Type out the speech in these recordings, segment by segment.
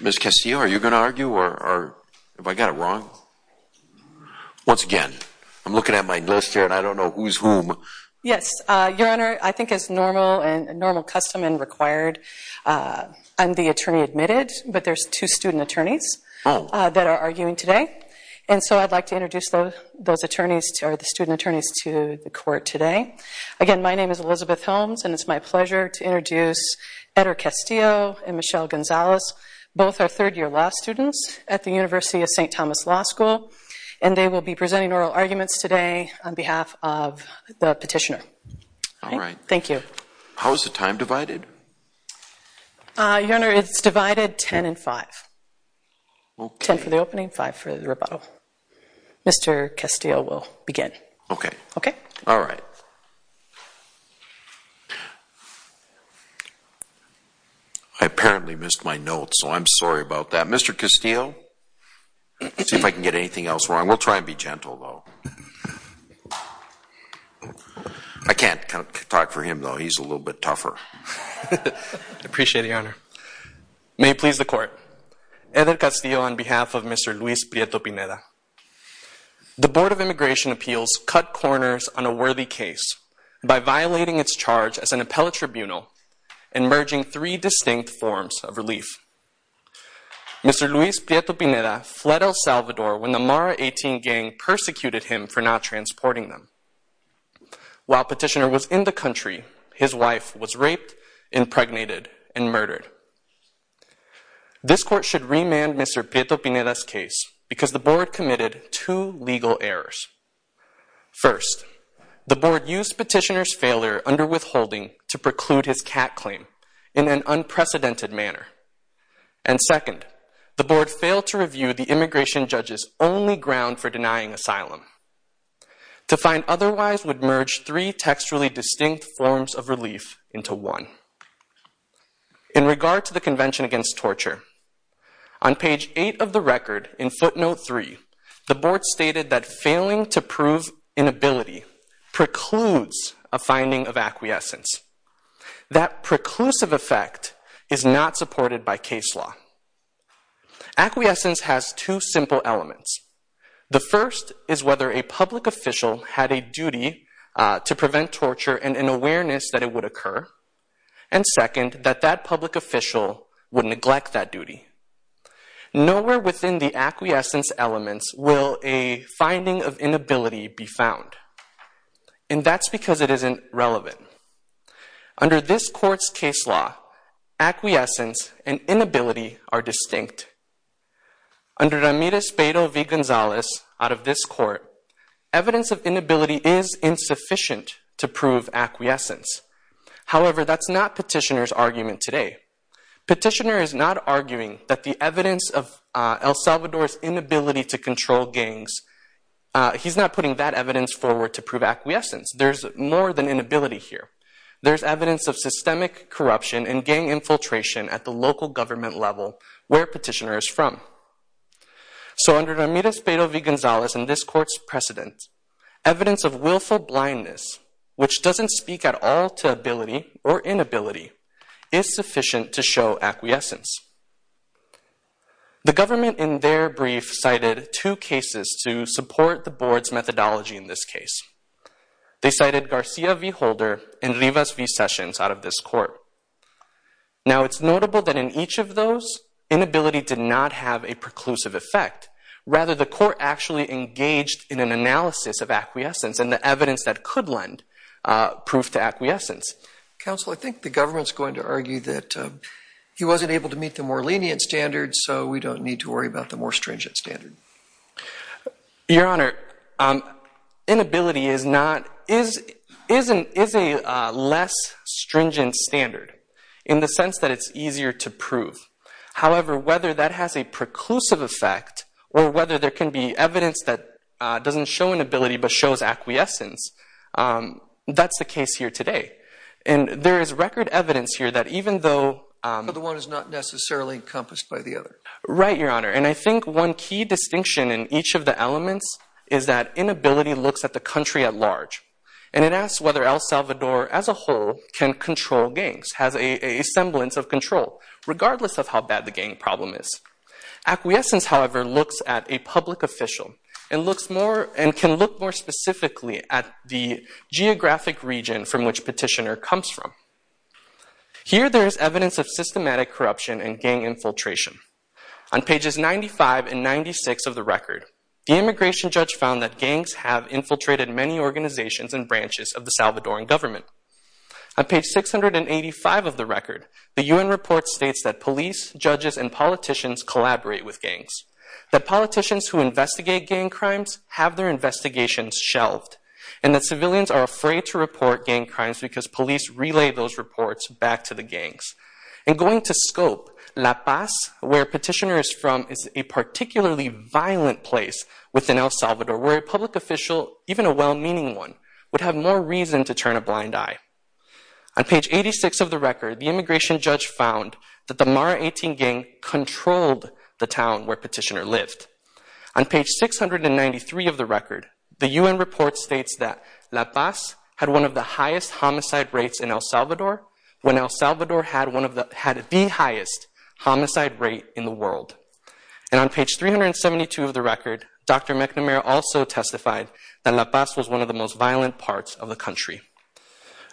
Ms. Castillo, are you going to argue or have I got it wrong? Once again, I'm looking at my list here and I don't know who's whom. Yes, Your Honor, I think as normal and normal custom and required, I'm the attorney admitted, but there's two student attorneys that are arguing today. And so I'd like to introduce those attorneys, the student attorneys, to the court today. Again, my name is Elizabeth Holmes and it's my pleasure to introduce Eder Castillo and Michelle Gonzalez, both are third-year law students at the University of St. Thomas Law School, and they will be presenting oral arguments today on behalf of the petitioner. All right. Thank you. How is the time divided? Your Honor, it's divided 10 and five. 10 for the opening, five for the rebuttal. Mr. Castillo will begin. Okay. Okay? All right. I apparently missed my notes, so I'm sorry about that. Mr. Castillo, see if I can get anything else wrong. We'll try and be gentle, though. I can't talk for him, though. He's a little bit tougher. I appreciate it, Your Honor. May it please the court. Eder Castillo on behalf of Mr. Luis Prieto-Pineda. The Board of Immigration Appeals cut corners on a worthy case by violating its charge as an appellate tribunal and merging three distinct forms of relief. Mr. Luis Prieto-Pineda fled El Salvador when the Mara 18 gang persecuted him for not transporting them. While petitioner was in the country, his wife was raped, impregnated, and murdered. This court should remand Mr. Prieto-Pineda's case because the Board committed two legal errors. First, the Board used petitioner's failure under withholding to preclude his cat claim in an unprecedented manner. And second, the Board failed to review the immigration judge's only ground for denying asylum. To find otherwise would merge three textually distinct forms of relief into one. In regard to the Convention Against Torture, on page eight of the record in footnote three, the Board stated that failing to prove inability precludes a finding of acquiescence. That preclusive effect is not supported by case law. Acquiescence has two simple elements. The first is whether a public official had a duty to prevent torture and an awareness that it would occur. And second, that that public official would neglect that duty. Nowhere within the acquiescence elements will a finding of inability be found. And that's because it isn't relevant. Under this court's case law, acquiescence and inability are distinct. Under Ramirez-Beto v. Gonzalez, out of this court, evidence of inability is insufficient to prove acquiescence. However, that's not petitioner's argument today. Petitioner is not arguing that the evidence of El Salvador's inability to control gangs, he's not putting that evidence forward to prove acquiescence. There's more than inability here. There's evidence of systemic corruption and gang infiltration at the local government level where petitioner is from. So under Ramirez-Beto v. Gonzalez and this court's precedent, evidence of willful blindness, which doesn't speak at all to ability or inability, is sufficient to show acquiescence. The government in their brief cited two cases to support the board's methodology in this case. They cited Garcia v. Holder and Rivas v. Sessions out of this court. Now, it's notable that in each of those, inability did not have a preclusive effect. Rather, the court actually engaged in an analysis of acquiescence and the evidence that could lend proof to acquiescence. Counsel, I think the government's going to argue that he wasn't able to meet the more lenient standards, so we don't need to worry about the more stringent standard. Your Honor, inability is not, is a less stringent standard in the sense that it's easier to prove. However, whether that has a preclusive effect or whether there can be evidence that doesn't show inability but shows acquiescence, that's the case here today. And there is record evidence here that even though- The one is not necessarily encompassed by the other. Right, Your Honor. And I think one key distinction in each of the elements is that inability looks at the country at large. And it asks whether El Salvador, as a whole, can control gangs, has a semblance of control, regardless of how bad the gang problem is. Acquiescence, however, looks at a public official and can look more specifically at the geographic region from which petitioner comes from. Here, there is evidence of systematic corruption and gang infiltration. On pages 95 and 96 of the record, the immigration judge found that gangs have infiltrated many organizations and branches of the Salvadoran government. On page 685 of the record, the UN report states that police, judges, and politicians collaborate with gangs, that politicians who investigate gang crimes have their investigations shelved, and that civilians are afraid to report gang crimes because police relay those reports back to the gangs. And going to scope, La Paz, where petitioner is from, is a particularly violent place within El Salvador where a public official, even a well-meaning one, would have more reason to turn a blind eye. On page 86 of the record, the immigration judge found that the Mara 18 gang controlled the town where petitioner lived. On page 693 of the record, the UN report states that La Paz had one of the highest homicide rates in El Salvador when El Salvador had the highest homicide rate in the world. And on page 372 of the record, Dr. McNamara also testified that La Paz was one of the most violent parts of the country.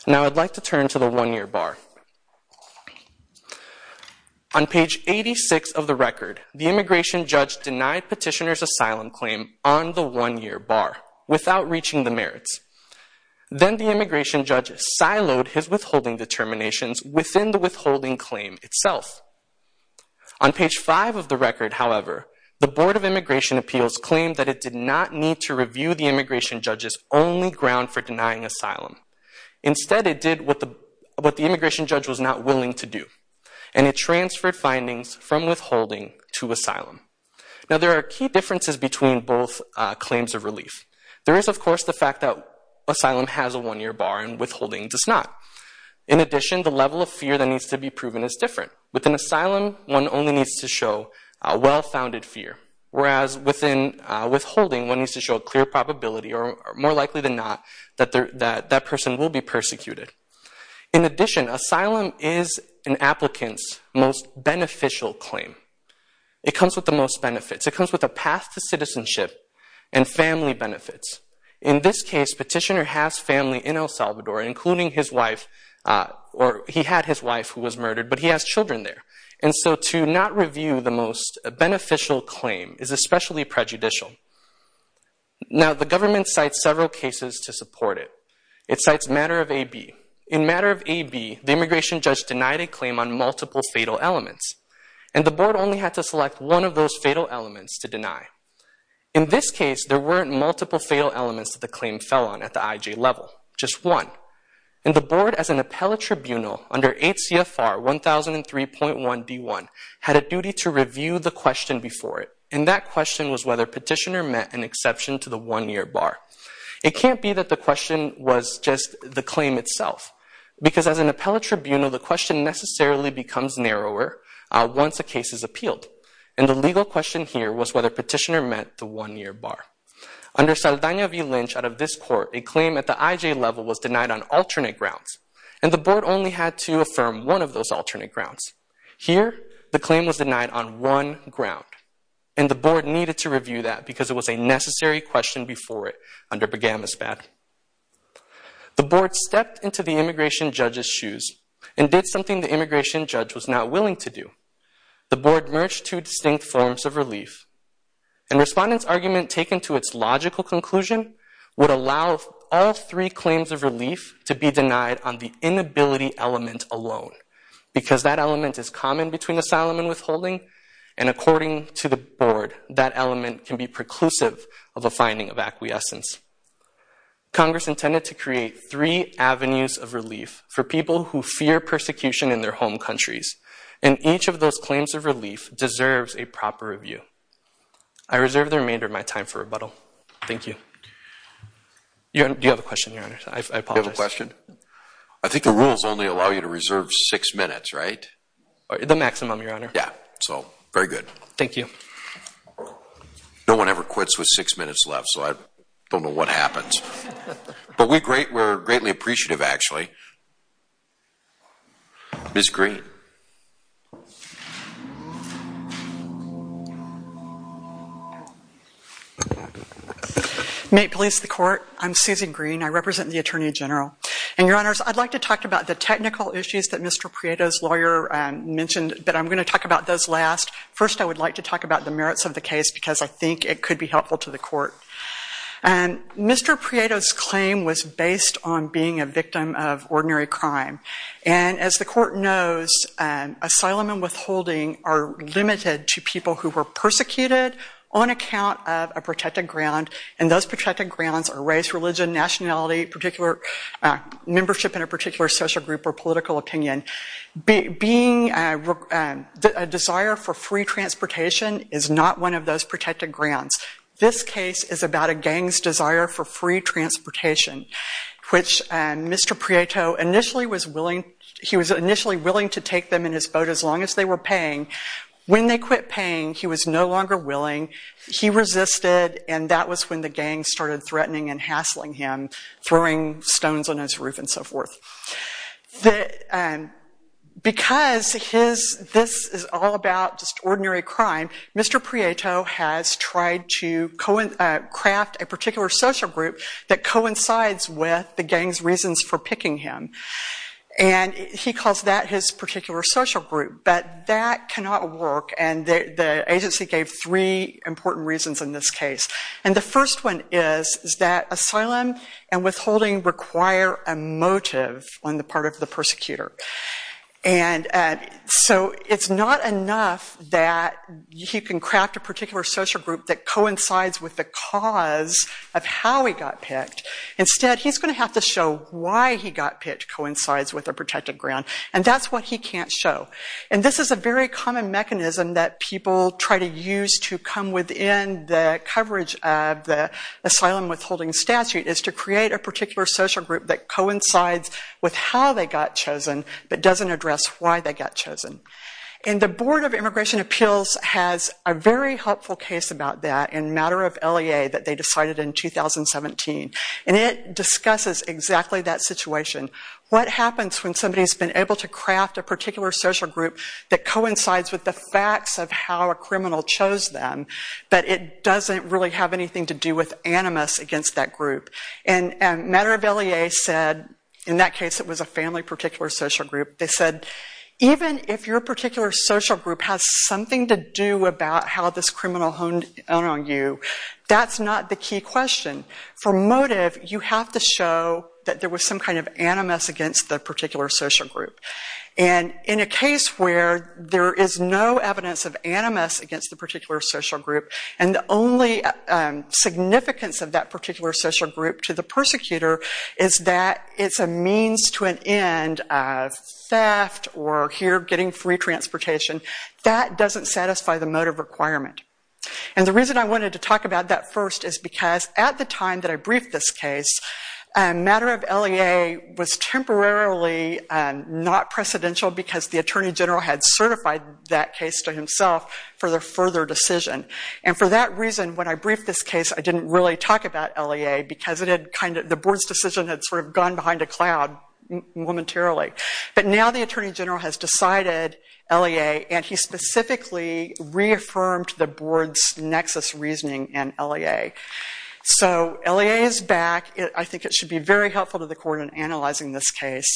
Now I'd like to turn to the one-year bar. On page 86 of the record, the immigration judge denied petitioner's asylum claim on the one-year bar without reaching the merits. Then the immigration judge siloed his withholding determinations within the withholding claim itself. On page five of the record, however, the Board of Immigration Appeals claimed that it did not need to review the immigration judge's only ground for denying asylum. Instead, it did what the immigration judge was not willing to do, and it transferred findings from withholding to asylum. Now there are key differences between both claims of relief. There is, of course, the fact that asylum has a one-year bar and withholding does not. In addition, the level of fear that needs to be proven is different. Within asylum, one only needs to show a well-founded fear, whereas within withholding, one needs to show a clear probability, or more likely than not, that that person will be persecuted. In addition, asylum is an applicant's most beneficial claim. It comes with the most benefits. It comes with a path to citizenship and family benefits. In this case, Petitioner has family in El Salvador, including his wife, or he had his wife who was murdered, but he has children there, and so to not review the most beneficial claim is especially prejudicial. Now the government cites several cases to support it. It cites Matter of A.B. In Matter of A.B., the immigration judge denied a claim on multiple fatal elements, and the board only had to select one of those fatal elements to deny. In this case, there weren't multiple fatal elements that the claim fell on at the IJ level, just one, and the board, as an appellate tribunal, under 8 CFR 1003.1 D1, had a duty to review the question before it, and that question was whether Petitioner met an exception to the one-year bar. It can't be that the question was just the claim itself, because as an appellate tribunal, the question necessarily becomes narrower once a case is appealed, and the legal question here was whether Petitioner met the one-year bar. Under Saldana v. Lynch, out of this court, a claim at the IJ level was denied on alternate grounds, and the board only had to affirm one of those alternate grounds. Here, the claim was denied on one ground, and the board needed to review that because it was a necessary question before it under Bogamisbad. The board stepped into the immigration judge's shoes and did something the immigration judge was not willing to do. The board merged two distinct forms of relief, and Respondent's argument, taken to its logical conclusion, would allow all three claims of relief to be denied on the inability element alone, because that element is common between asylum and withholding, and according to the board, that element can be preclusive of a finding of acquiescence. Congress intended to create three avenues of relief for people who fear persecution in their home countries, and each of those claims of relief deserves a proper review. I reserve the remainder of my time for rebuttal. Thank you. Do you have a question, Your Honor? I apologize. Do you have a question? I think the rules only allow you to reserve six minutes, right? The maximum, Your Honor. Yeah, so, very good. Thank you. No one ever quits with six minutes left, so I don't know what happens. But we're greatly appreciative, actually. Ms. Green. May it please the Court? I'm Susan Green. I represent the Attorney General. And, Your Honors, I'd like to talk about the technical issues that Mr. Prieto's lawyer mentioned, but I'm gonna talk about those last. First, I would like to talk about the merits of the case, because I think it could be helpful to the Court. And Mr. Prieto's claim was based on being a victim of ordinary crime. And, as the Court knows, asylum and withholding are limited to people who were persecuted on account of a protected ground. And those protected grounds are race, religion, nationality, membership in a particular social group or political opinion. Being a desire for free transportation is not one of those protected grounds. This case is about a gang's desire for free transportation, which Mr. Prieto initially was willing, he was initially willing to take them in his boat as long as they were paying. When they quit paying, he was no longer willing. He resisted, and that was when the gang started threatening and hassling him, throwing stones on his roof and so forth. Because this is all about just ordinary crime, Mr. Prieto has tried to craft a particular social group that coincides with the gang's reasons for picking him. And he calls that his particular social group. But that cannot work, and the agency gave three important reasons in this case. And the first one is that asylum and withholding require a motive on the part of the persecutor. And so it's not enough that he can craft a particular social group that coincides with the cause of how he got picked. Instead, he's gonna have to show why he got picked coincides with a protected ground, and that's what he can't show. And this is a very common mechanism that people try to use to come within the coverage of the asylum withholding statute, is to create a particular social group that coincides with how they got chosen, but doesn't address why they got chosen. And the Board of Immigration Appeals has a very helpful case about that, in matter of LEA, that they decided in 2017. And it discusses exactly that situation. What happens when somebody's been able to craft a particular social group that coincides with the facts of how a criminal chose them, but it doesn't really have anything to do with animus against that group. And matter of LEA said, in that case, it was a family particular social group, they said, even if your particular social group has something to do about how this criminal honed on you, that's not the key question. For motive, you have to show that there was some kind of animus against the particular social group. And in a case where there is no evidence of animus against the particular social group, and the only significance of that particular social group to the persecutor is that it's a means to an end of theft, or here, getting free transportation, that doesn't satisfy the motive requirement. And the reason I wanted to talk about that first is because at the time that I briefed this case, matter of LEA was temporarily not precedential because the Attorney General had certified that case to himself for their further decision. And for that reason, when I briefed this case, I didn't really talk about LEA because the board's decision had sort of gone behind a cloud momentarily. But now the Attorney General has decided LEA, and he specifically reaffirmed the board's nexus reasoning in LEA. So LEA is back, I think it should be very helpful to the court in analyzing this case.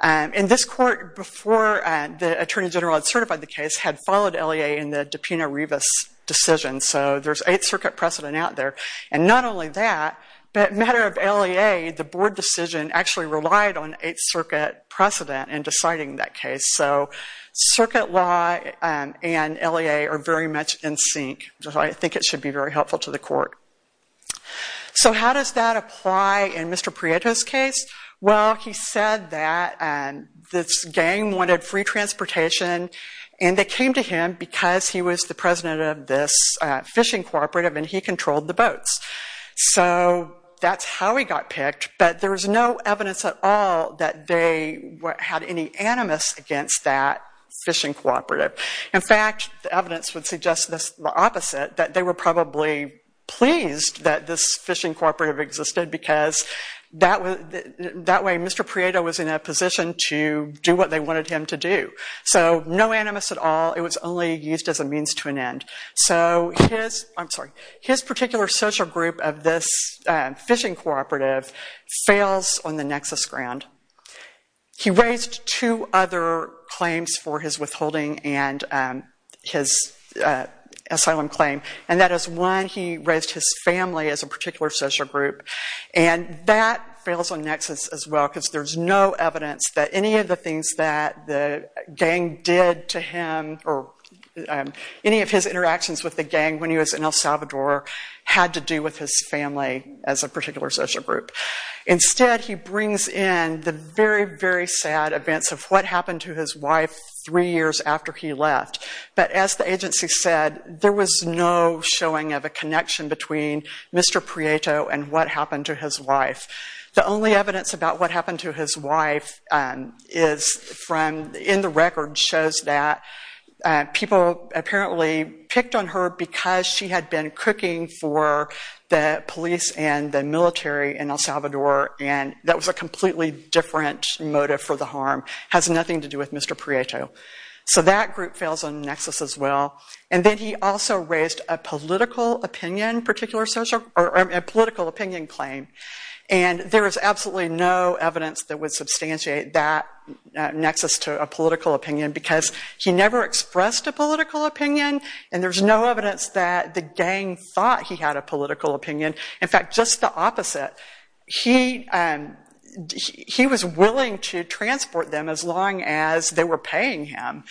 And this court, before the Attorney General had certified the case, had followed LEA in the DiPino-Rivas decision, so there's Eighth Circuit precedent out there. And not only that, but matter of LEA, the board decision actually relied on Eighth Circuit precedent in deciding that case. So circuit law and LEA are very much in sync, which is why I think it should be very helpful to the court. So how does that apply in Mr. Prieto's case? Well, he said that this gang wanted free transportation, and they came to him because he was the president of this fishing cooperative, and he controlled the boats. So that's how he got picked, but there was no evidence at all that they had any animus against that fishing cooperative. In fact, the evidence would suggest the opposite, that they were probably pleased that this fishing cooperative existed because that way, Mr. Prieto was in a position to do what they wanted him to do. So no animus at all, it was only used as a means to an end. So his, I'm sorry, his particular social group of this fishing cooperative fails on the nexus ground. He raised two other claims for his withholding and his asylum claim, and that is one, he raised his family as a particular social group, and that fails on nexus as well, because there's no evidence that any of the things that the gang did to him, or any of his interactions with the gang when he was in El Salvador had to do with his family as a particular social group. Instead, he brings in the very, very sad events of what happened to his wife three years after he left. But as the agency said, there was no showing of a connection between Mr. Prieto and what happened to his wife. The only evidence about what happened to his wife is from, in the record, shows that people apparently picked on her because she had been cooking for the police and the military in El Salvador, and that was a completely different motive for the harm, has nothing to do with Mr. Prieto. So that group fails on the nexus as well. And then he also raised a political opinion, particular social, or a political opinion claim. And there is absolutely no evidence that would substantiate that nexus to a political opinion, because he never expressed a political opinion, and there's no evidence that the gang thought he had a political opinion. In fact, just the opposite. He was willing to transport them as long as they were paying him.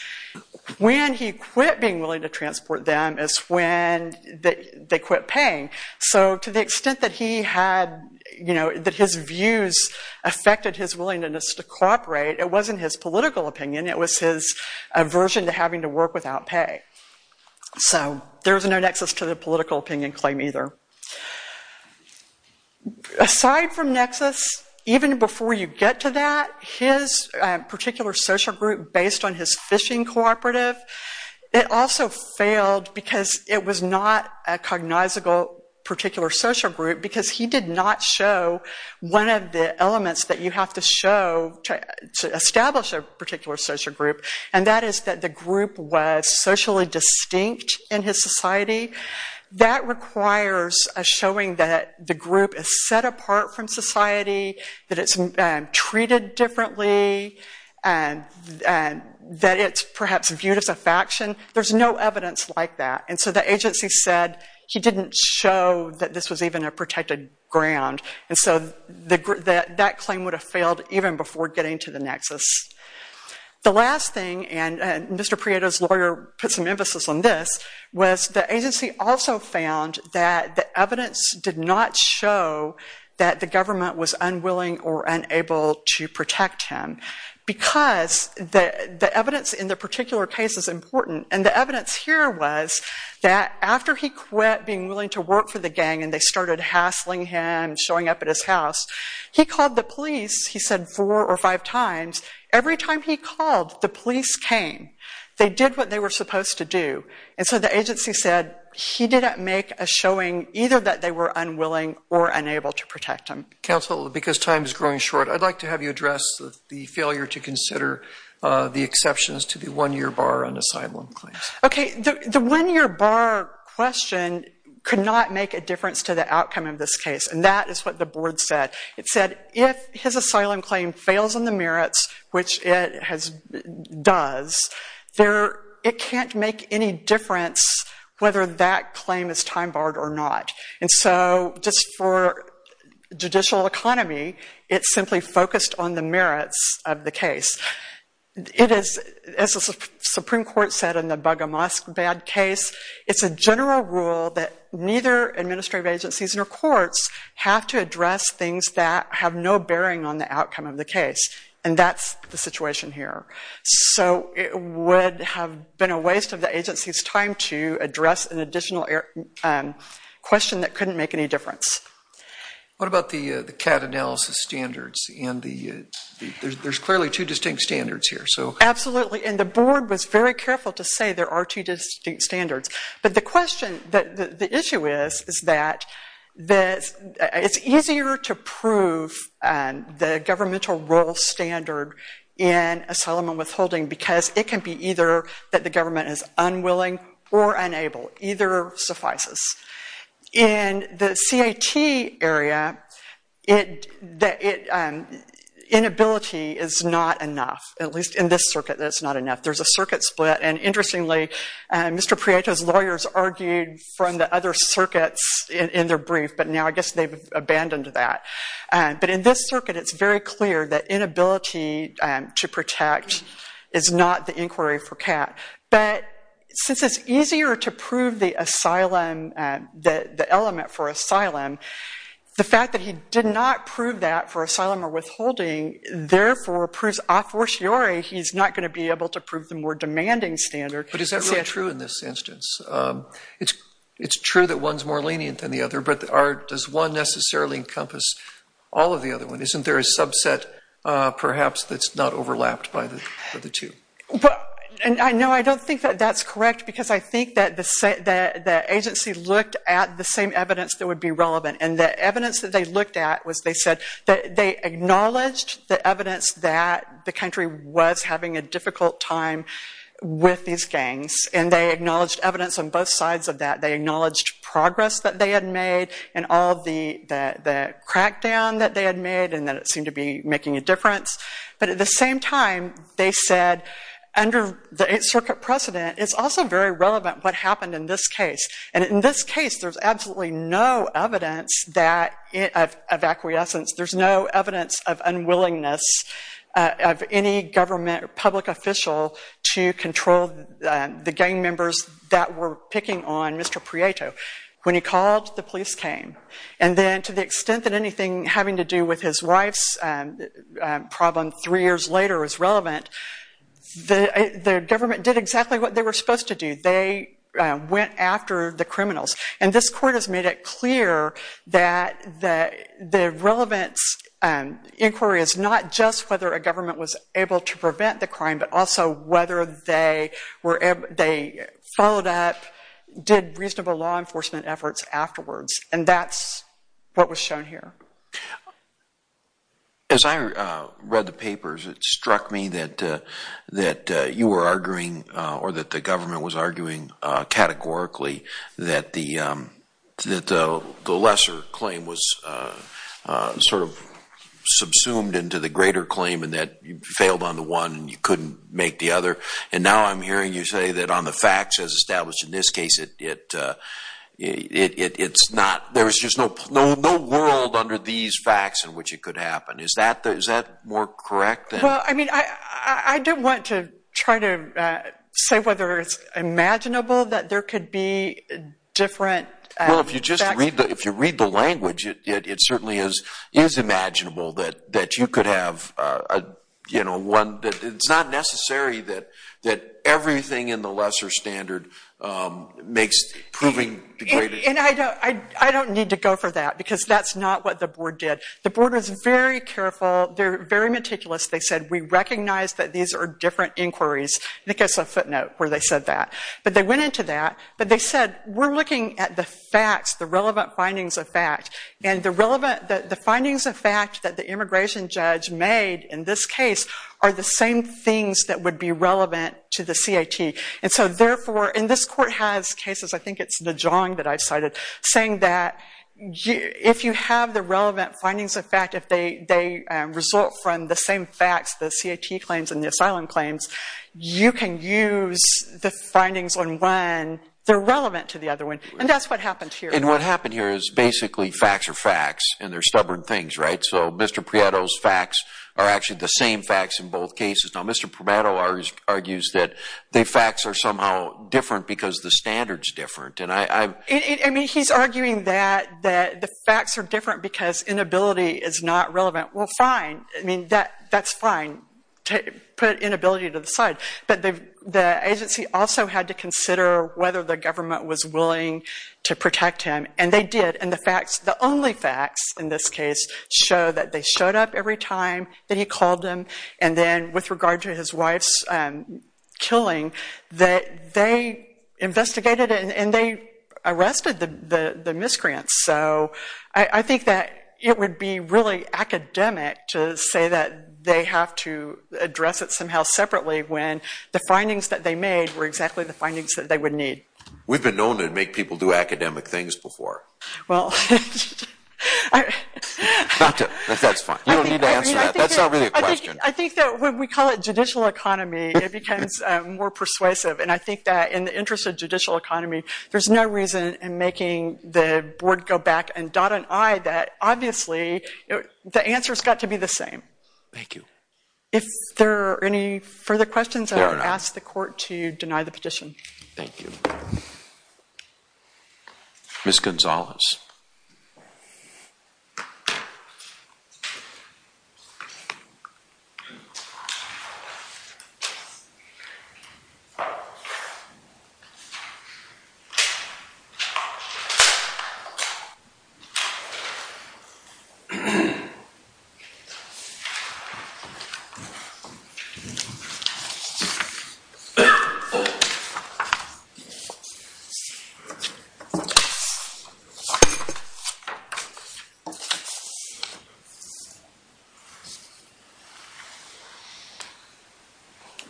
When he quit being willing to transport them is when they quit paying. So to the extent that he had, you know, that his views affected his willingness to cooperate, it wasn't his political opinion, it was his aversion to having to work without pay. So there's no nexus to the political opinion claim either. Aside from nexus, even before you get to that, his particular social group, based on his fishing cooperative, it also failed because it was not a cognizable particular social group, because he did not show one of the elements that you have to show to establish a particular social group. And that is that the group was socially distinct in his society. That requires a showing that the group is set apart from society, that it's treated differently, that it's perhaps viewed as a faction. There's no evidence like that. And so the agency said he didn't show that this was even a protected ground. And so that claim would have failed even before getting to the nexus. The last thing, and Mr. Prieto's lawyer put some emphasis on this, was the agency also found that the evidence did not show that the government was unwilling or unable to protect him. Because the evidence in the particular case is important. And the evidence here was that after he quit being willing to work for the gang and they started hassling him, showing up at his house, he called the police, he said four or five times. Every time he called, the police came. They did what they were supposed to do. And so the agency said he didn't make a showing either that they were unwilling or unable to protect him. Counsel, because time is growing short, I'd like to have you address the failure to consider the exceptions to the one-year bar on asylum claims. Okay, the one-year bar question could not make a difference to the outcome of this case. And that is what the board said. It said if his asylum claim fails on the merits, which it does, it can't make any difference whether that claim is time barred or not. And so just for judicial economy, it simply focused on the merits of the case. It is, as the Supreme Court said in the Baga Mosque bad case, it's a general rule that neither administrative agencies nor courts have to address things that have no bearing on the outcome of the case. And that's the situation here. So it would have been a waste of the agency's time to address an additional question that couldn't make any difference. What about the CAD analysis standards? And there's clearly two distinct standards here, so. Absolutely, and the board was very careful to say there are two distinct standards. But the question, the issue is, is that it's easier to prove because it can be either that the government is unwilling or unable. Either suffices. In the CAT area, inability is not enough, at least in this circuit, that it's not enough. There's a circuit split, and interestingly, Mr. Prieto's lawyers argued from the other circuits in their brief, but now I guess they've abandoned that. But in this circuit, it's very clear that inability to protect is not the inquiry for CAT. But since it's easier to prove the asylum, the element for asylum, the fact that he did not prove that for asylum or withholding, therefore, proves a fortiori he's not gonna be able to prove the more demanding standard. But is that really true in this instance? It's true that one's more lenient than the other, but does one necessarily encompass all of the other ones? Isn't there a subset, perhaps, that's not overlapped by the two? But, and no, I don't think that that's correct, because I think that the agency looked at the same evidence that would be relevant, and the evidence that they looked at was, they said that they acknowledged the evidence that the country was having a difficult time with these gangs, and they acknowledged evidence on both sides of that. They acknowledged progress that they had made, and all the crackdown that they had made, and that it seemed to be making a difference. But at the same time, they said, under the Eighth Circuit precedent, it's also very relevant what happened in this case. And in this case, there's absolutely no evidence that, of acquiescence, there's no evidence of unwillingness of any government or public official to control the gang members that were picking on Mr. Prieto. When he called, the police came. And then, to the extent that anything having to do with his wife's problem three years later is relevant, the government did exactly what they were supposed to do. They went after the criminals. And this court has made it clear that the relevant inquiry is not just whether a government was able to prevent the crime, but also whether they followed up, did reasonable law enforcement efforts afterwards. And that's what was shown here. As I read the papers, it struck me that you were arguing, or that the government was arguing, categorically, that the lesser claim was sort of subsumed into the greater claim, and that you failed on the one, and you couldn't make the other. And now I'm hearing you say that on the facts, as established in this case, it's not, there's just no world under these facts in which it could happen. Is that more correct? Well, I mean, I don't want to try to say whether it's imaginable that there could be different facts. Well, if you just read the language, it certainly is imaginable that you could have one, that it's not necessary that everything in the lesser standard makes proving the greater. And I don't need to go for that, because that's not what the board did. The board was very careful. They're very meticulous. They said, we recognize that these are different inquiries. I think it's a footnote where they said that. But they went into that, but they said, we're looking at the facts, the relevant findings of fact, and the relevant, the findings of fact that the immigration judge made in this case are the same things that would be relevant to the CAT. I think it's Najong that I've cited, saying that if you have the relevant findings of fact, if they result from the same facts, the CAT claims and the asylum claims, you can use the findings on one, they're relevant to the other one. And that's what happened here. And what happened here is basically facts are facts, and they're stubborn things, right? So Mr. Prieto's facts are actually the same facts in both cases. Now, Mr. Prieto argues that the facts are somehow different because the standard's different. I mean, he's arguing that the facts are different because inability is not relevant. Well, fine. I mean, that's fine to put inability to the side. But the agency also had to consider whether the government was willing to protect him, and they did. And the facts, the only facts in this case show that they showed up every time that he called them. And then with regard to his wife's killing, that they investigated it, and they arrested the miscreants. So I think that it would be really academic to say that they have to address it somehow separately when the findings that they made were exactly the findings that they would need. We've been known to make people do academic things before. Well, I... Not to... That's fine. You don't need to answer that. That's not really a question. I think that when we call it judicial economy, it becomes more persuasive. And I think that in the interest of judicial economy, there's no reason in making the board go back and dot an I that, obviously, the answer's got to be the same. Thank you. If there are any further questions, I would ask the court to deny the petition. Thank you. Ms. Gonzalez.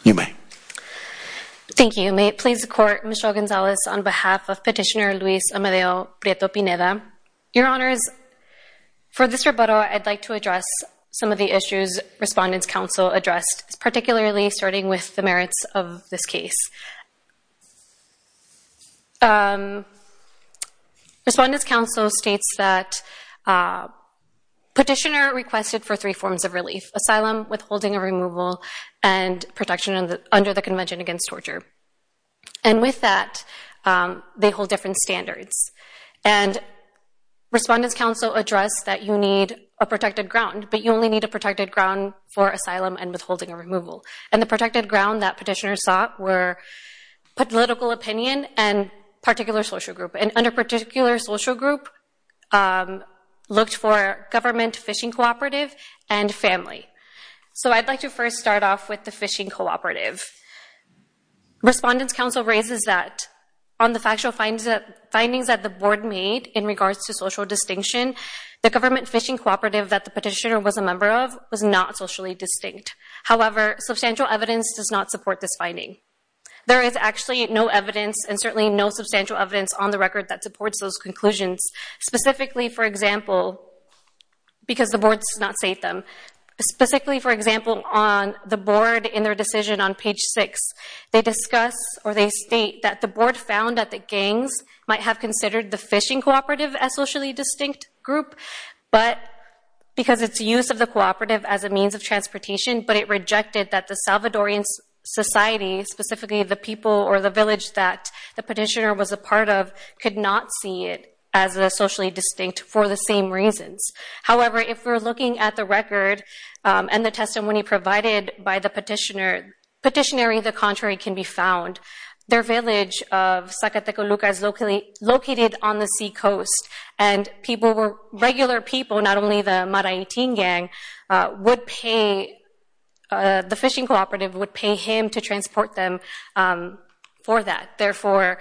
You may. Thank you. May it please the court, Michelle Gonzalez on behalf of petitioner Luis Amadeo Prieto-Pineda. Your honors, for this rebuttal, I'd like to address some of the issues Respondents' Council addressed, particularly starting with the merits of this case. Respondents' Council states that petitioner requested for three forms of relief, asylum, withholding of removal, and protection under the Convention Against Torture. And with that, they hold different standards. And Respondents' Council addressed that you need a protected ground, but you only need a protected ground for asylum and withholding of removal. And the protected ground that petitioner sought were political opinion and particular social group. And under particular social group, looked for government phishing cooperative and family. So I'd like to first start off with the phishing cooperative. Respondents' Council raises that on the factual findings that the board made in regards to social distinction, the government phishing cooperative that the petitioner was a member of was not socially distinct. However, substantial evidence does not support this finding. There is actually no evidence and certainly no substantial evidence on the record that supports those conclusions. Specifically, for example, because the board does not state them, specifically, for example, on the board in their decision on page six, they discuss or they state that the board found that the gangs might have considered the phishing cooperative as socially distinct group, but because it's use of the cooperative as a means of transportation, but it rejected that the Salvadorian society, specifically the people or the village that the petitioner was a part of, could not see it as a socially distinct for the same reasons. However, if we're looking at the record and the testimony provided by the petitioner, petitionary the contrary can be found. Their village of Zacateco Lucas located on the sea coast and people were regular people, not only the Maraitin gang, the phishing cooperative would pay him to transport them for that. Therefore,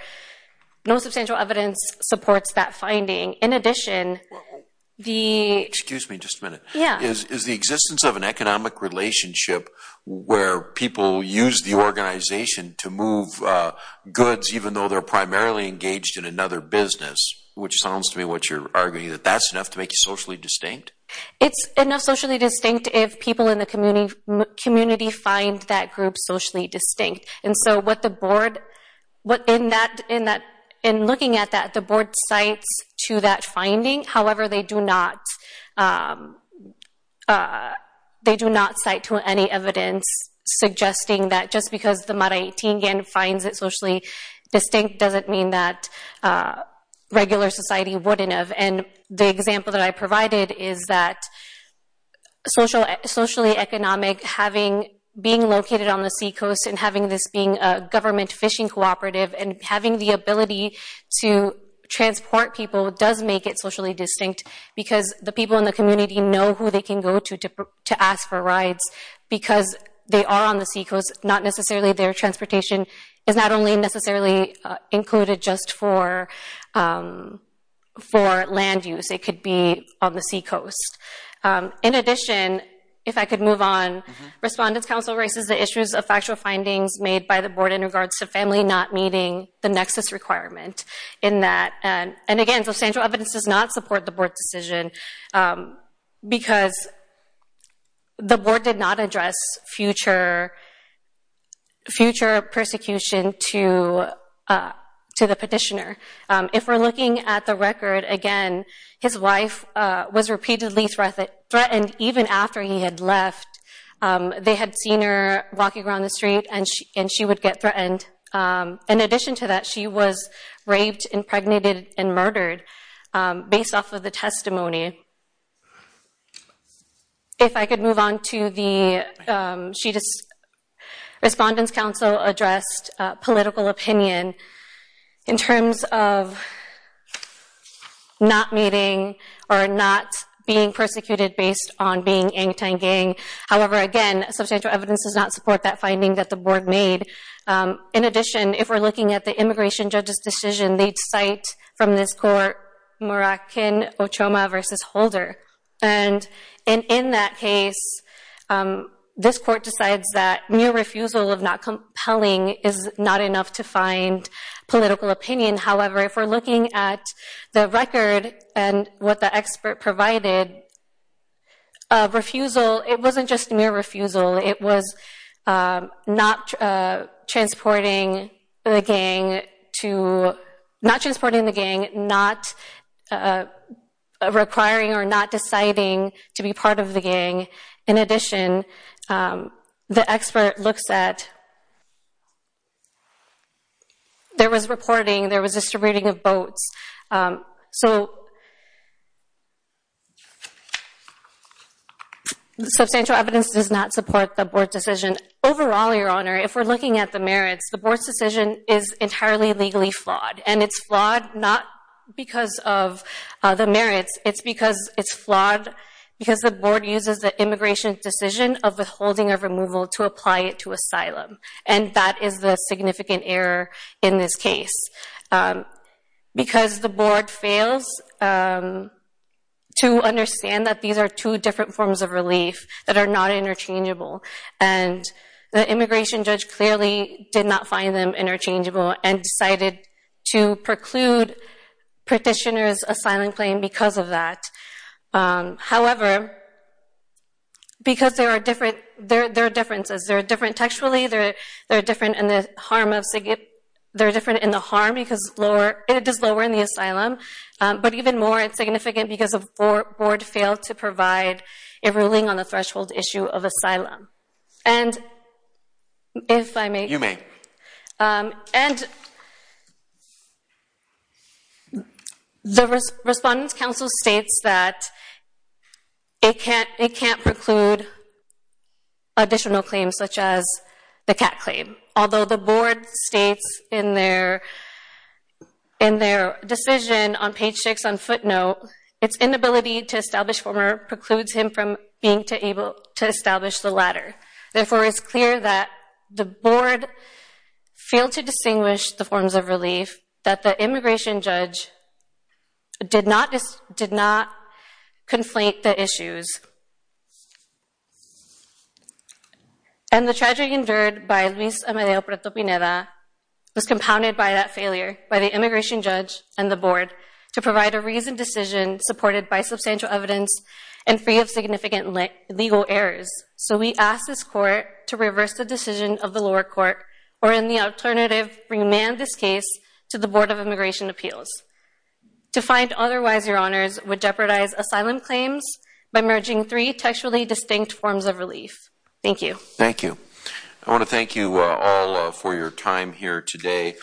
no substantial evidence supports that finding. In addition, the- Excuse me, just a minute. Yeah. Is the existence of an economic relationship where people use the organization to move goods, even though they're primarily engaged in another business, which sounds to me what you're arguing, that that's enough to make you socially distinct? It's enough socially distinct if people in the community find that group socially distinct. And so what the board, what in that, in looking at that, the board cites to that finding. However, they do not, they do not cite to any evidence suggesting that just because the Maraitin gang finds it socially distinct doesn't mean that regular society wouldn't have. And the example that I provided is that socially economic, being located on the sea coast and having this being a government phishing cooperative and having the ability to transport people does make it socially distinct because the people in the community know who they can go to to ask for rides because they are on the sea coast, not necessarily their transportation is not only necessarily included just for land use, it could be on the sea coast. In addition, if I could move on, Respondents Council raises the issues of factual findings made by the board in regards to family not meeting the nexus requirement in that. And again, substantial evidence does not support the board decision because the board did not address future persecution to the petitioner. If we're looking at the record again, his wife was repeatedly threatened and even after he had left, they had seen her walking around the street and she would get threatened. In addition to that, she was raped, impregnated and murdered based off of the testimony. If I could move on to the, Respondents Council addressed political opinion in terms of not meeting or not being persecuted based on being in Tangang. However, again, substantial evidence does not support that finding that the board made. In addition, if we're looking at the immigration judge's decision, they'd cite from this court, Murakin Ochoma versus Holder. And in that case, this court decides that mere refusal of not compelling is not enough to find political opinion. However, if we're looking at the record and what the expert provided, refusal, it wasn't just mere refusal, it was not transporting the gang to, not transporting the gang, not requiring or not deciding to be part of the gang. In addition, the expert looks at, there was reporting, there was distributing of votes. So, substantial evidence does not support the board's decision. Overall, Your Honor, if we're looking at the merits, the board's decision is entirely legally flawed and it's flawed not because of the merits, it's because it's flawed because the board uses the immigration decision of withholding of removal to apply it to asylum. And that is the significant error in this case. Because the board fails to understand that these are two different forms of relief that are not interchangeable. And the immigration judge clearly did not find them interchangeable and decided to preclude petitioner's asylum claim because of that. However, because there are differences, there are different textually, there are different in the harm of, there are different in the harm because lower, it is lower in the asylum. But even more, it's significant because the board failed to provide a ruling on the threshold issue of asylum. And if I may. You may. And the Respondent's Counsel states that it can't preclude additional claims such as the cat claim. Although the board states in their, in their decision on page six on footnote, it's inability to establish former precludes him from being to able to establish the latter. Therefore, it's clear that the board failed to distinguish the forms of relief did not, did not conflate the issues. And the tragedy endured by Luis Amadeo Preto-Pineda was compounded by that failure by the immigration judge and the board to provide a reasoned decision supported by substantial evidence and free of significant legal errors. So we ask this court to reverse the decision of the lower court or in the alternative, remand this case to the Board of Immigration Appeals. To find otherwise, your honors, would jeopardize asylum claims by merging three textually distinct forms of relief. Thank you. Thank you. I want to thank you all for your time here today.